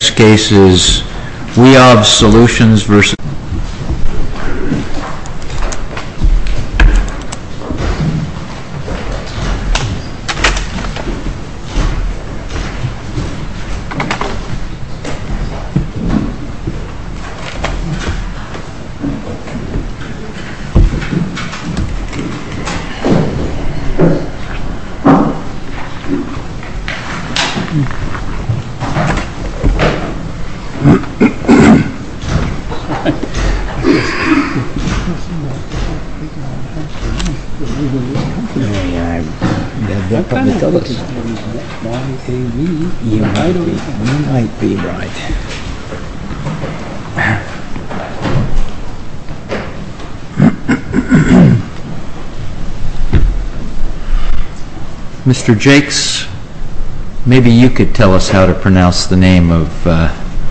This case is we have solutions versus. Mr. Jacques, maybe you can tell us how to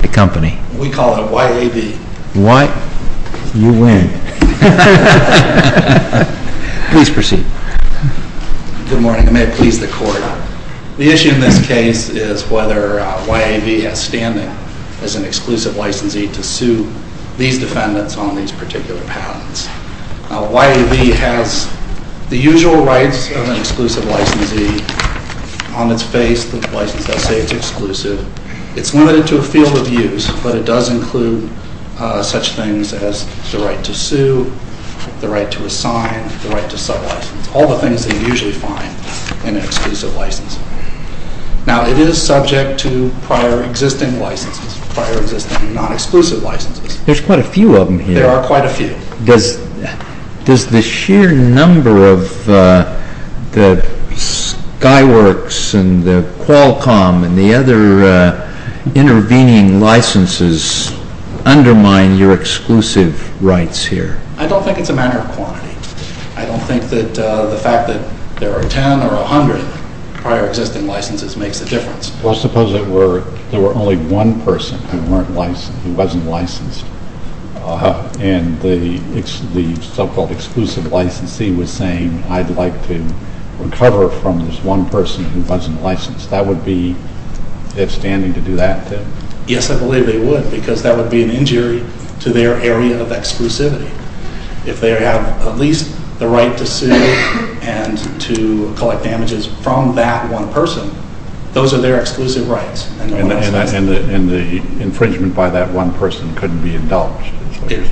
accompany. We call it a YAV. What? You win. Please proceed. Good morning. I may please the court. The issue in this case is whether YAV has standing as an exclusive licensee to sue these defendants on these particular patents. YAV has the usual rights of an exclusive licensee on its face, the license that says it's exclusive. It's limited to a field of use, but it does include such things as the right to sue, the right to assign, the right to sub-license. All the things that you usually find in an exclusive license. Now it is subject to prior existing licenses, prior existing non-exclusive licenses. There's quite a few of them here. There are quite a few. Does the sheer number of the Skyworks and the Qualcomm and the other intervening licenses undermine your exclusive rights here? I don't think it's a matter of quantity. I don't think that the fact that there are ten or a hundred prior existing licenses makes a difference. Well, suppose there were only one person who wasn't licensed and the so-called exclusive licensee was saying, I'd like to recover from this one person who wasn't licensed. That would be if standing to do that. Yes, I believe they would because that would be an injury to their area of exclusivity. If they have at least the right to sue and to collect damages from that one person, those are their exclusive rights. And the infringement by that one person couldn't be indulged?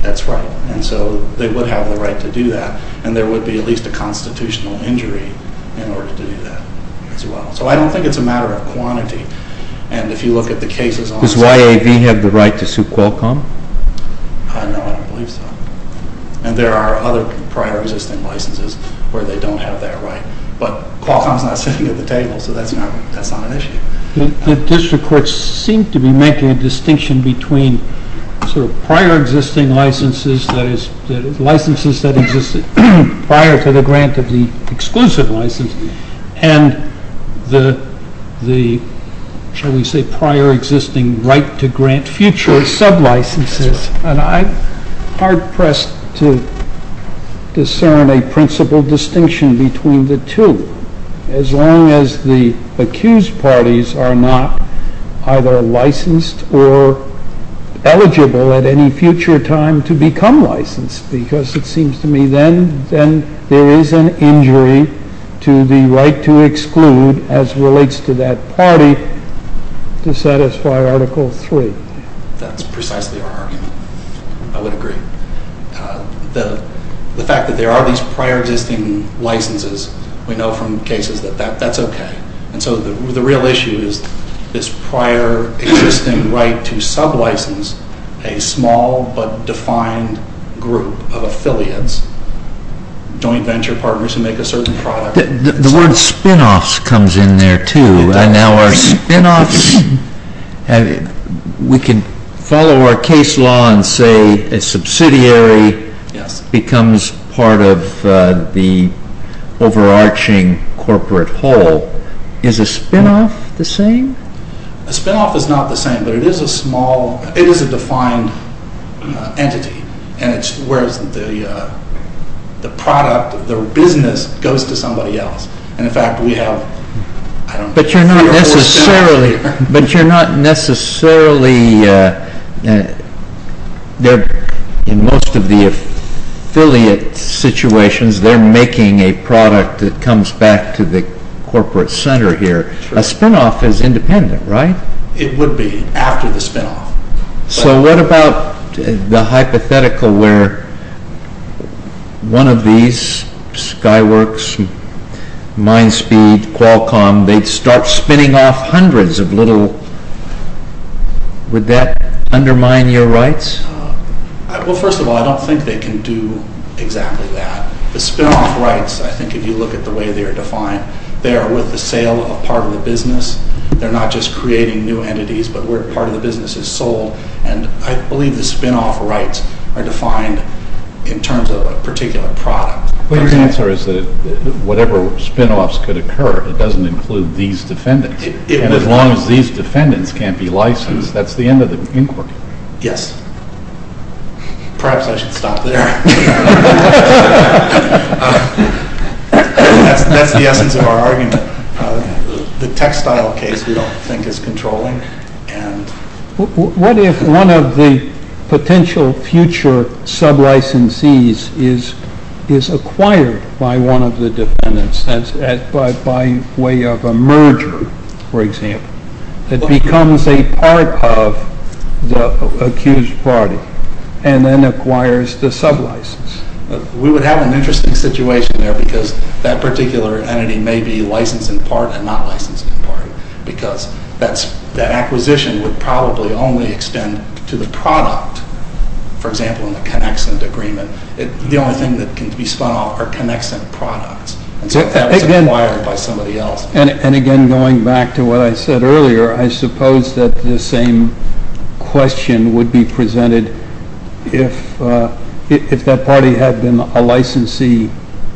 That's right. And so they would have the right to do that. And there would be at least a constitutional injury in order to do that as well. So I don't think it's a matter of quantity. And if you look at the cases on site... Does YAV have the right to sue Qualcomm? I don't know. I don't believe so. And there are other prior existing licenses where they don't have that right. But Qualcomm is not sitting at the table, so that's not an issue. The district courts seem to be making a distinction between sort of prior existing licenses, that is, licenses that existed prior to the grant of the exclusive license, and the, shall we say, prior existing right to grant future sub-licenses. And I'm hard-pressed to discern a principal distinction between the two, as long as the accused parties are not either licensed or eligible at any future time to become licensed. Because it seems to me then there is an injury to the right to exclude, as relates to that party, to satisfy Article III. That's precisely our argument. I would agree. The fact that there are these prior existing licenses, we know from cases that that's okay. And so the real issue is this prior existing right to sub-license a small but defined group of affiliates, joint venture partners who make a certain product. The word spin-offs comes in there, too. And now our spin-offs, we can follow our case law and say a subsidiary becomes part of the overarching corporate whole. Is a spin-off the same? A spin-off is not the same, but it is a small, it is a defined entity. And it's where the product, the business, goes to somebody else. But you're not necessarily, in most of the affiliate situations, they're making a product that comes back to the corporate center here. A spin-off is independent, right? It would be, after the spin-off. So what about the hypothetical where one of these, Skyworks, Mindspeed, Qualcomm, they'd start spinning off hundreds of little, would that undermine your rights? Well, first of all, I don't think they can do exactly that. The spin-off rights, I think if you look at the way they are defined, they are with the sale of part of the business. They're not just creating new entities, but where part of the business is sold. And I believe the spin-off rights are defined in terms of a particular product. But your answer is that whatever spin-offs could occur, it doesn't include these defendants. And as long as these defendants can't be licensed, that's the end of the inquiry. Yes. Perhaps I should stop there. That's the essence of our argument. The textile case we don't think is controlling. What if one of the potential future sub-licensees is acquired by one of the defendants by way of a merger, for example, that becomes a part of the accused party and then acquires the sub-license? We would have an interesting situation there because that particular entity may be licensed in part and not licensed in part because that acquisition would probably only extend to the product. For example, in the Connexent Agreement, the only thing that can be spun off are Connexent products. And so if that was acquired by somebody else. And again, going back to what I said earlier, I suppose that the same question would be presented if that party had been a licensee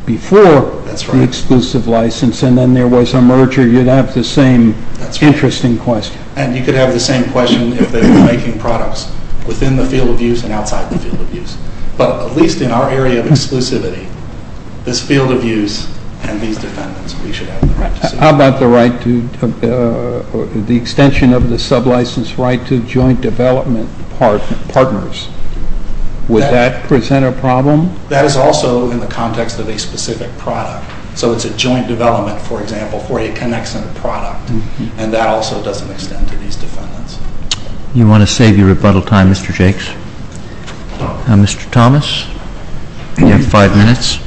before the exclusive license and then there was a merger, you'd have the same interesting question. And you could have the same question if they were making products within the field of use and outside the field of use. But at least in our area of exclusivity, this field of use and these defendants, we should have the right to sue. How about the extension of the sub-license right to joint development partners? Would that present a problem? That is also in the context of a specific product. So it's a joint development, for example, for a Connexent product. And that also doesn't extend to these defendants. Do you want to save your rebuttal time, Mr. Jakes? Mr. Thomas, you have five minutes.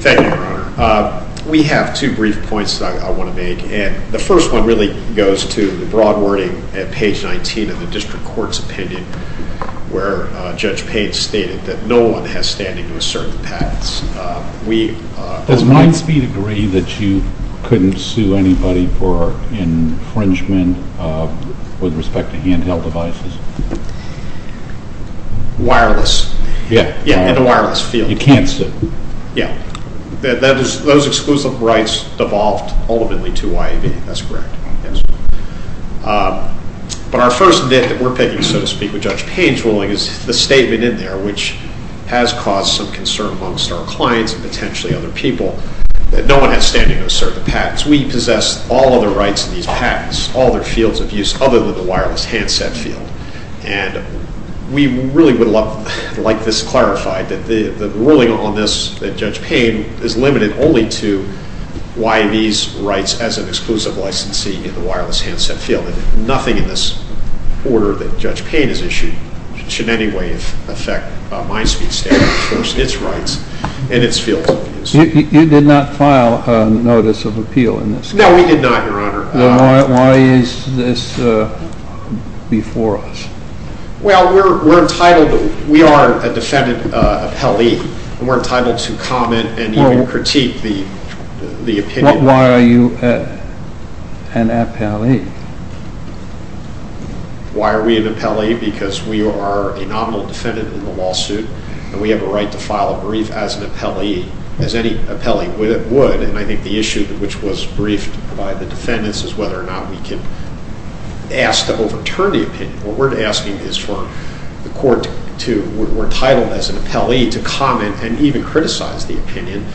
Thank you, Your Honor. We have two brief points that I want to make. And the first one really goes to the broad wording at page 19 of the district court's opinion where Judge Pate stated that no one has standing to assert the patents. Does Minespeed agree that you couldn't sue anybody for infringement with respect to handheld devices? Wireless. Yeah, in the wireless field. You can't sue. Yeah. Those exclusive rights devolved ultimately to YAB. That's correct. But our first bit that we're picking, so to speak, with Judge Pate's ruling is the statement in there which has caused some concern amongst our clients and potentially other people that no one has standing to assert the patents. We possess all of the rights to these patents, all of their fields of use, other than the wireless handset field. And we really would like this clarified, that the ruling on this that Judge Pate has limited only to YAB's rights as an exclusive licensee in the wireless handset field. Nothing in this order that Judge Pate has issued should in any way affect Minespeed's standing to enforce its rights and its fields of use. You did not file a notice of appeal in this case? No, we did not, Your Honor. Then why is this before us? Well, we are a defendant appellee, and we're entitled to comment and even critique the opinion. Why are you an appellee? Why are we an appellee? Because we are a nominal defendant in the lawsuit, and we have a right to file a brief as an appellee, as any appellee would. And I think the issue which was briefed by the defendants is whether or not we can ask to overturn the opinion. What we're asking is for the court to, we're entitled as an appellee to comment and even criticize the opinion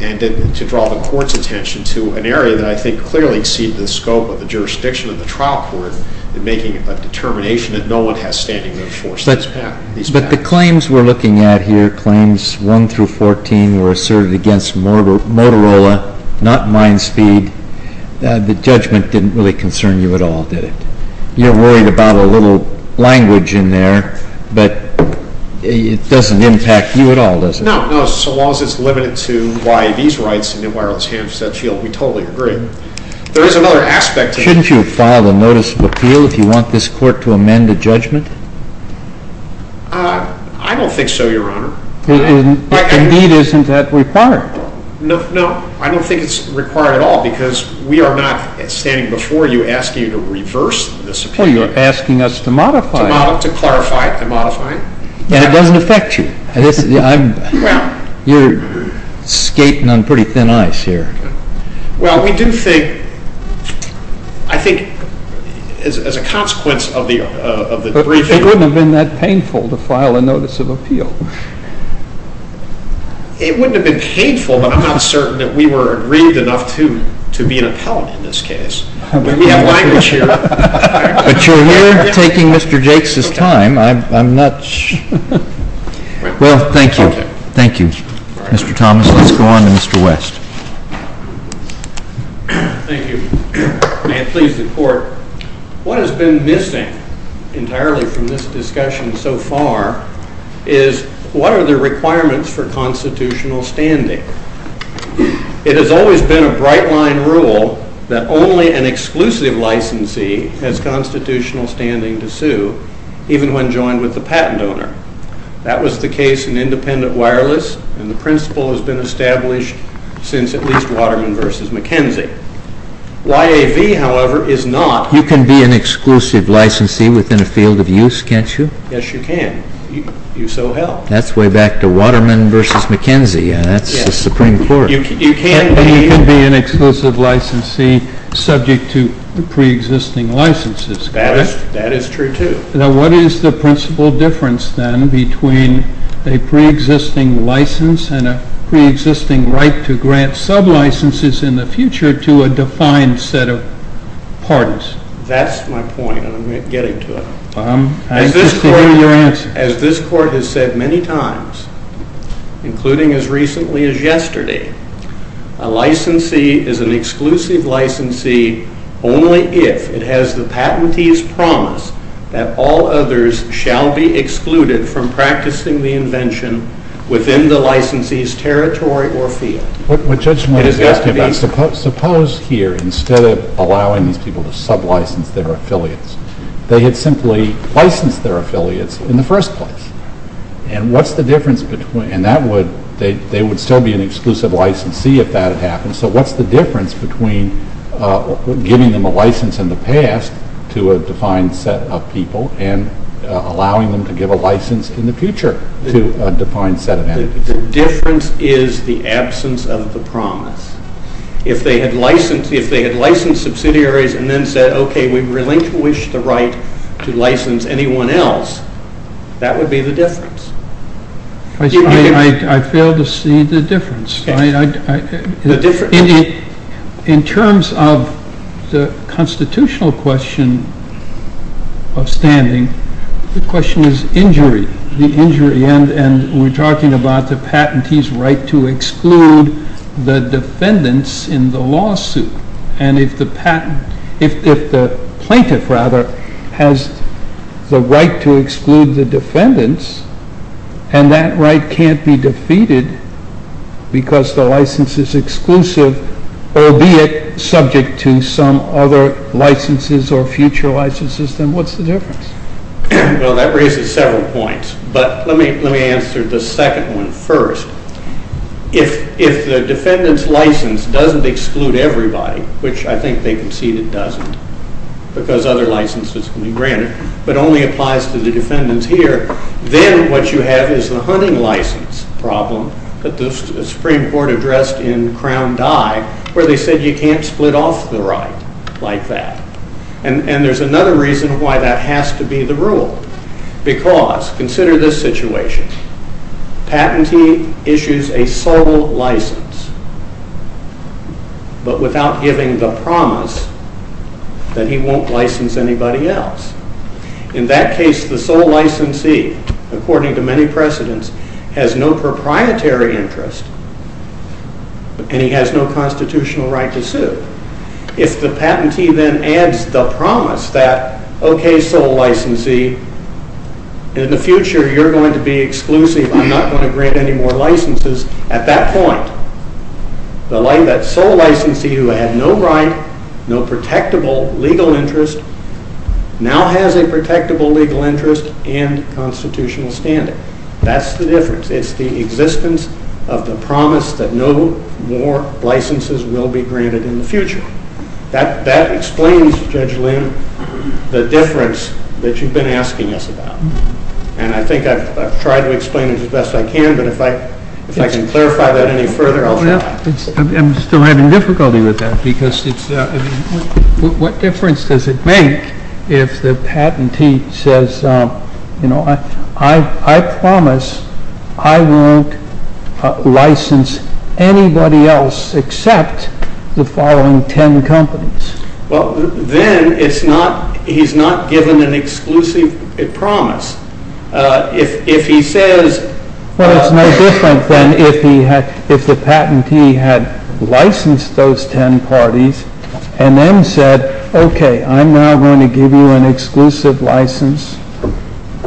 and to draw the court's attention to an area that I think clearly exceeds the scope of the jurisdiction of the trial court in making a determination that no one has standing to enforce these patents. But the claims we're looking at here, claims 1 through 14, were asserted against Motorola, not MindSpeed. The judgment didn't really concern you at all, did it? You're worried about a little language in there, but it doesn't impact you at all, does it? No, no. So long as it's limited to YAV's rights and wireless handsets, we totally agree. There is another aspect to it. Shouldn't you have filed a notice of appeal if you want this court to amend a judgment? I don't think so, Your Honor. Indeed, isn't that required? No, no. I don't think it's required at all because we are not standing before you asking you to reverse this opinion. Well, you're asking us to modify it. To modify it, to clarify it, to modify it. And it doesn't affect you. You're skating on pretty thin ice here. Well, we do think, I think, as a consequence of the debriefing. It wouldn't have been that painful to file a notice of appeal. It wouldn't have been painful, but I'm not certain that we were aggrieved enough to be an appellant in this case. We have language here. But you're here taking Mr. Jakes' time. I'm not sure. Well, thank you. Thank you. Mr. Thomas, let's go on to Mr. West. Thank you. May it please the court. What has been missing entirely from this discussion so far is what are the requirements for constitutional standing? It has always been a bright-line rule that only an exclusive licensee has constitutional standing to sue, even when joined with the patent owner. That was the case in independent wireless, and the principle has been established since at least Waterman v. McKenzie. YAV, however, is not. You can be an exclusive licensee within a field of use, can't you? Yes, you can. You so help. That's way back to Waterman v. McKenzie. That's the Supreme Court. You can be an exclusive licensee subject to preexisting licenses. That is true, too. Now, what is the principle difference, then, between a preexisting license and a preexisting right to grant sublicenses in the future to a defined set of parties? That's my point, and I'm getting to it. As this court has said many times, including as recently as yesterday, a licensee is an exclusive licensee only if it has the patentee's promise that all others shall be excluded from practicing the invention within the licensee's territory or field. What Judge Moynihan is asking about, suppose here, instead of allowing these people to sublicense their affiliates, they had simply licensed their affiliates in the first place. And what's the difference between, and that would, they would still be an exclusive licensee if that had happened, so what's the difference between giving them a license in the past to a defined set of people and allowing them to give a license in the future to a defined set of entities? The difference is the absence of the promise. If they had licensed subsidiaries and then said, okay, we really wish the right to license anyone else, that would be the difference. I fail to see the difference. In terms of the constitutional question of standing, the question is injury, the injury, and we're talking about the patentee's right to exclude the defendants in the lawsuit. And if the patent, if the plaintiff, rather, has the right to exclude the defendants, and that right can't be defeated because the license is exclusive, albeit subject to some other licenses or future licenses, then what's the difference? Well, that raises several points, but let me answer the second one first. If the defendant's license doesn't exclude everybody, which I think they concede it doesn't, because other licenses can be granted, but only applies to the defendants here, then what you have is the hunting license problem that the Supreme Court addressed in Crown Die, where they said you can't split off the right like that. And there's another reason why that has to be the rule, because consider this situation. Patentee issues a sole license, but without giving the promise that he won't license anybody else. In that case, the sole licensee, according to many precedents, has no proprietary interest, and he has no constitutional right to sue. If the patentee then adds the promise that, okay, sole licensee, in the future you're going to be exclusive, I'm not going to grant any more licenses, at that point, the sole licensee who had no right, no protectable legal interest, now has a protectable legal interest and constitutional standing. That's the difference. It's the existence of the promise that no more licenses will be granted in the future. That explains, Judge Lynn, the difference that you've been asking us about. And I think I've tried to explain it as best I can, but if I can clarify that any further, I'll try. I'm still having difficulty with that, because what difference does it make if the patentee says, I promise I won't license anybody else except the following ten companies? Well, then he's not given an exclusive promise. If he says... Well, it's no different than if the patentee had licensed those ten parties and then said, okay, I'm now going to give you an exclusive license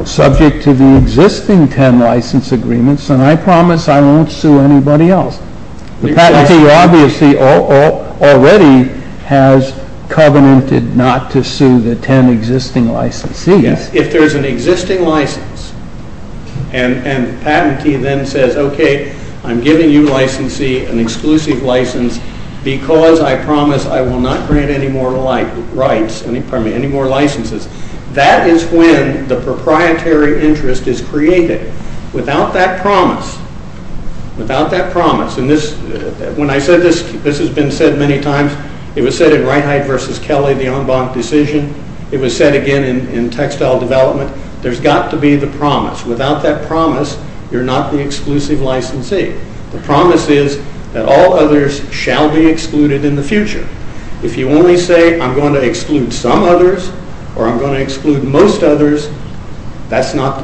subject to the existing ten license agreements, and I promise I won't sue anybody else. The patentee obviously already has covenanted not to sue the ten existing licensees. Yes, if there's an existing license, and the patentee then says, okay, I'm giving you an exclusive license because I promise I will not grant any more licenses. That is when the proprietary interest is created. Without that promise, and when I said this, this has been said many times. It was said in Reinhardt v. Kelly, the en banc decision. It was said again in textile development. There's got to be the promise. Without that promise, you're not the exclusive licensee. The promise is that all others shall be excluded in the future. If you only say I'm going to exclude some others or I'm going to exclude most others, that's not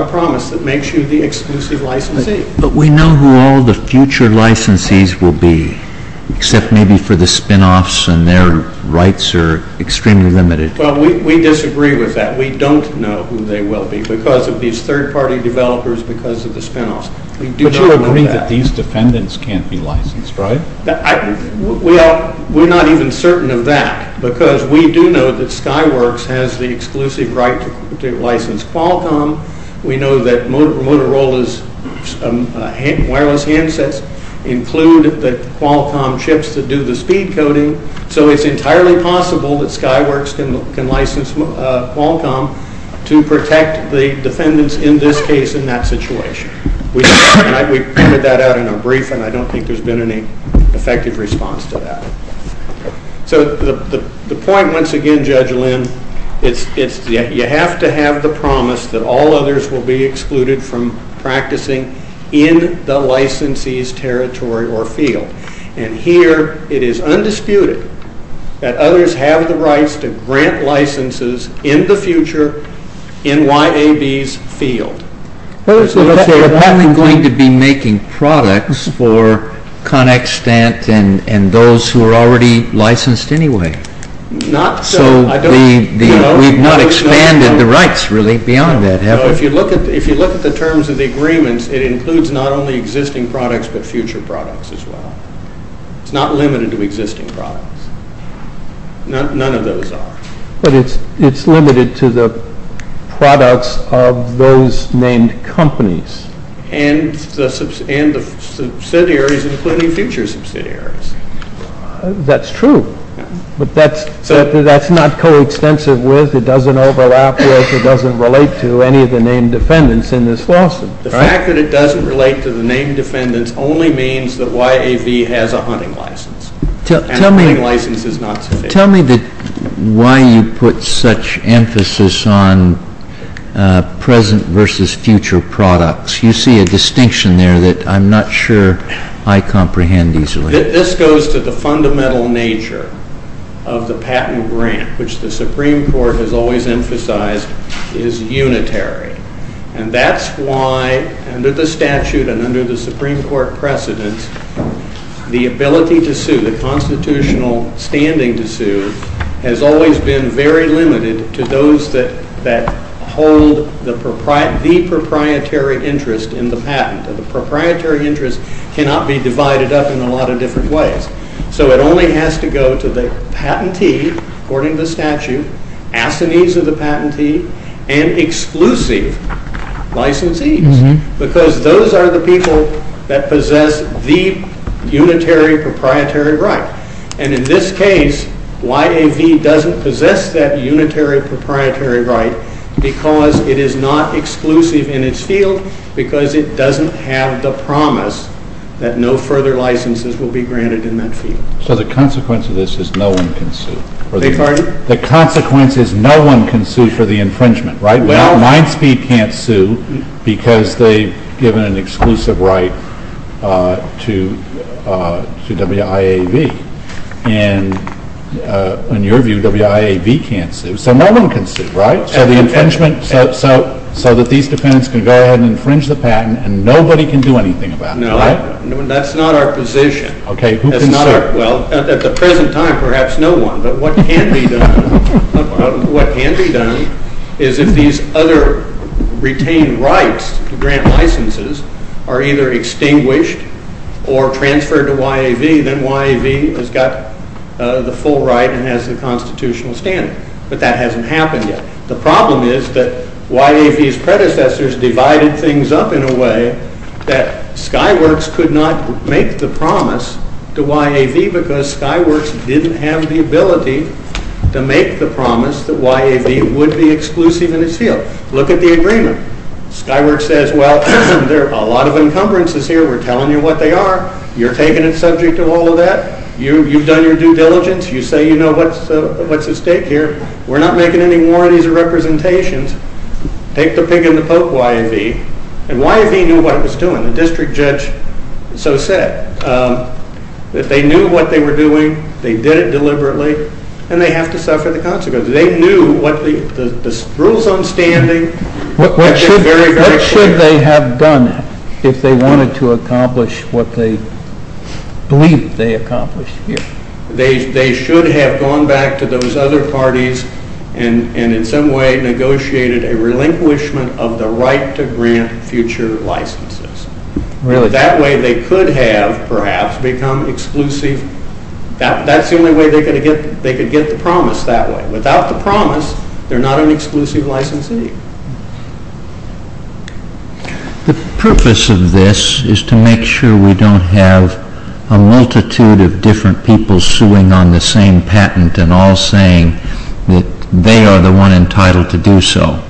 a promise that makes you the exclusive licensee. But we know who all the future licensees will be, except maybe for the spinoffs and their rights are extremely limited. Well, we disagree with that. We don't know who they will be because of these third-party developers, because of the spinoffs. But you agree that these defendants can't be licensed, right? Well, we're not even certain of that because we do know that Skyworks has the exclusive right to license Qualcomm. We know that Motorola's wireless handsets include the Qualcomm chips that do the speed coding. So it's entirely possible that Skyworks can license Qualcomm to protect the defendants in this case in that situation. We pointed that out in a brief, and I don't think there's been any effective response to that. So the point, once again, Judge Lynn, is that you have to have the promise that all others will be excluded from practicing in the licensee's territory or field. And here it is undisputed that others have the rights to grant licenses in the future in YAB's field. But if they're only going to be making products for ConExtent and those who are already licensed anyway. Not so. So we've not expanded the rights, really, beyond that, have we? If you look at the terms of the agreements, it includes not only existing products, but future products as well. It's not limited to existing products. None of those are. But it's limited to the products of those named companies. And the subsidiaries, including future subsidiaries. That's true. But that's not coextensive with, it doesn't overlap with, it doesn't relate to any of the named defendants in this lawsuit. The fact that it doesn't relate to the named defendants only means that YAV has a hunting license. And a hunting license is not sufficient. Tell me why you put such emphasis on present versus future products. You see a distinction there that I'm not sure I comprehend easily. This goes to the fundamental nature of the patent grant, which the Supreme Court has always emphasized is unitary. And that's why, under the statute and under the Supreme Court precedents, the ability to sue, the constitutional standing to sue, has always been very limited to those that hold the proprietary interest in the patent. The proprietary interest cannot be divided up in a lot of different ways. So it only has to go to the patentee, according to the statute, assinees of the patentee, and exclusive licensees. Because those are the people that possess the unitary proprietary right. And in this case, YAV doesn't possess that unitary proprietary right because it is not exclusive in its field, because it doesn't have the promise that no further licenses will be granted in that field. So the consequence of this is no one can sue. Beg your pardon? The consequence is no one can sue for the infringement, right? Well, MindSpeed can't sue because they've given an exclusive right to WIAV. And in your view, WIAV can't sue. So no one can sue, right? So the infringement, so that these defendants can go ahead and infringe the patent and nobody can do anything about it, right? No, that's not our position. Okay, who can sue? Well, at the present time, perhaps no one. But what can be done is if these other retained rights to grant licenses are either extinguished or transferred to WIAV, then WIAV has got the full right and has the constitutional standard. But that hasn't happened yet. The problem is that WIAV's predecessors divided things up in a way that Skyworks could not make the promise to WIAV because Skyworks didn't have the ability to make the promise that WIAV would be exclusive in its field. Look at the agreement. Skyworks says, well, there are a lot of encumbrances here. We're telling you what they are. You're taking it subject to all of that. You've done your due diligence. You say, you know, what's at stake here? We're not making any more of these representations. Take the pig and the poke, WIAV. And WIAV knew what it was doing. The district judge so said that they knew what they were doing. They did it deliberately, and they have to suffer the consequences. They knew the rules on standing. What should they have done if they wanted to accomplish what they believe they accomplished here? They should have gone back to those other parties and in some way negotiated a relinquishment of the right to grant future licenses. That way they could have perhaps become exclusive. That's the only way they could get the promise that way. Without the promise, they're not an exclusive licensee. The purpose of this is to make sure we don't have a multitude of different people suing on the same patent and all saying that they are the one entitled to do so.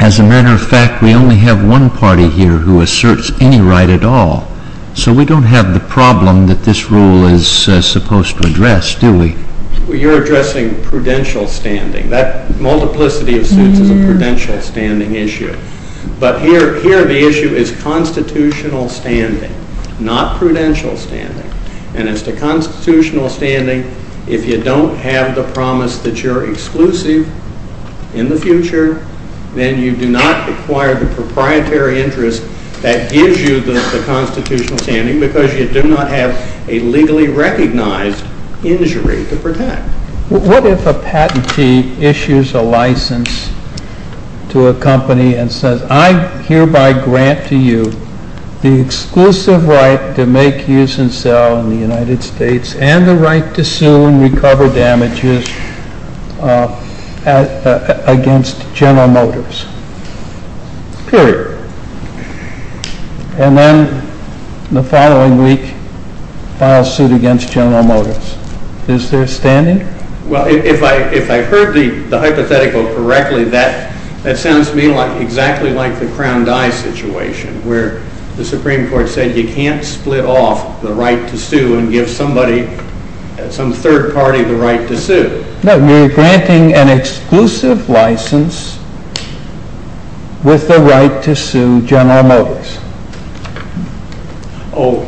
As a matter of fact, we only have one party here who asserts any right at all. So we don't have the problem that this rule is supposed to address, do we? You're addressing prudential standing. That multiplicity of suits is a prudential standing issue. But here the issue is constitutional standing, not prudential standing. And as to constitutional standing, if you don't have the promise that you're exclusive in the future, then you do not acquire the proprietary interest that gives you the constitutional standing because you do not have a legally recognized injury to protect. What if a patentee issues a license to a company and says, I hereby grant to you the exclusive right to make, use, and sell in the United States and the right to sue and recover damages against General Motors? Period. And then the following week, file suit against General Motors. Is there standing? Well, if I heard the hypothetical correctly, that sounds to me exactly like the crown die situation where the Supreme Court said you can't split off the right to sue and give somebody, some third party, the right to sue. No, you're granting an exclusive license with the right to sue General Motors.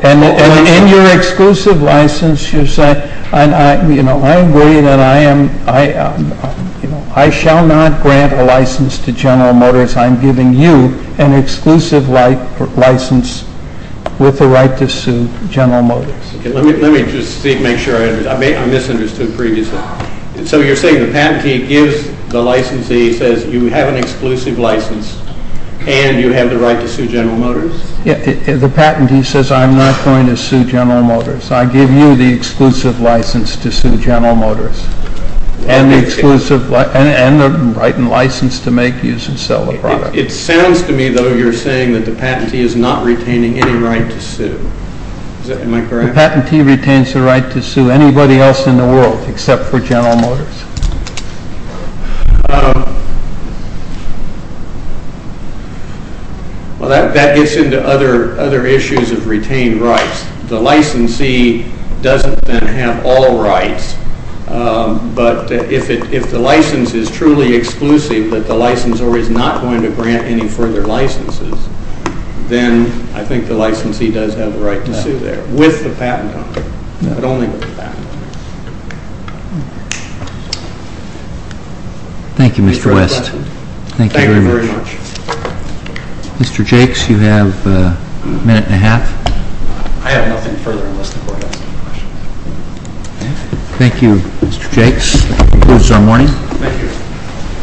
And in your exclusive license, you're saying, you know, I agree that I am, I shall not grant a license to General Motors. I'm giving you an exclusive license with the right to sue General Motors. Let me just make sure I understand. I misunderstood previously. So you're saying the patentee gives the licensee, says you have an exclusive license and you have the right to sue General Motors? The patentee says, I'm not going to sue General Motors. I give you the exclusive license to sue General Motors and the right and license to make, use, and sell the product. It sounds to me, though, you're saying that the patentee is not retaining any right to sue. Am I correct? The patentee retains the right to sue anybody else in the world except for General Motors? Well, that gets into other issues of retained rights. The licensee doesn't then have all rights. But if the license is truly exclusive, that the licensor is not going to grant any further licenses, then I think the licensee does have the right to sue there with the patent on it, but only with the patent on it. Thank you, Mr. West. Thank you very much. Mr. Jakes, you have a minute and a half. I have nothing further unless the Court has any questions. Thank you, Mr. Jakes. That concludes our morning. Thank you.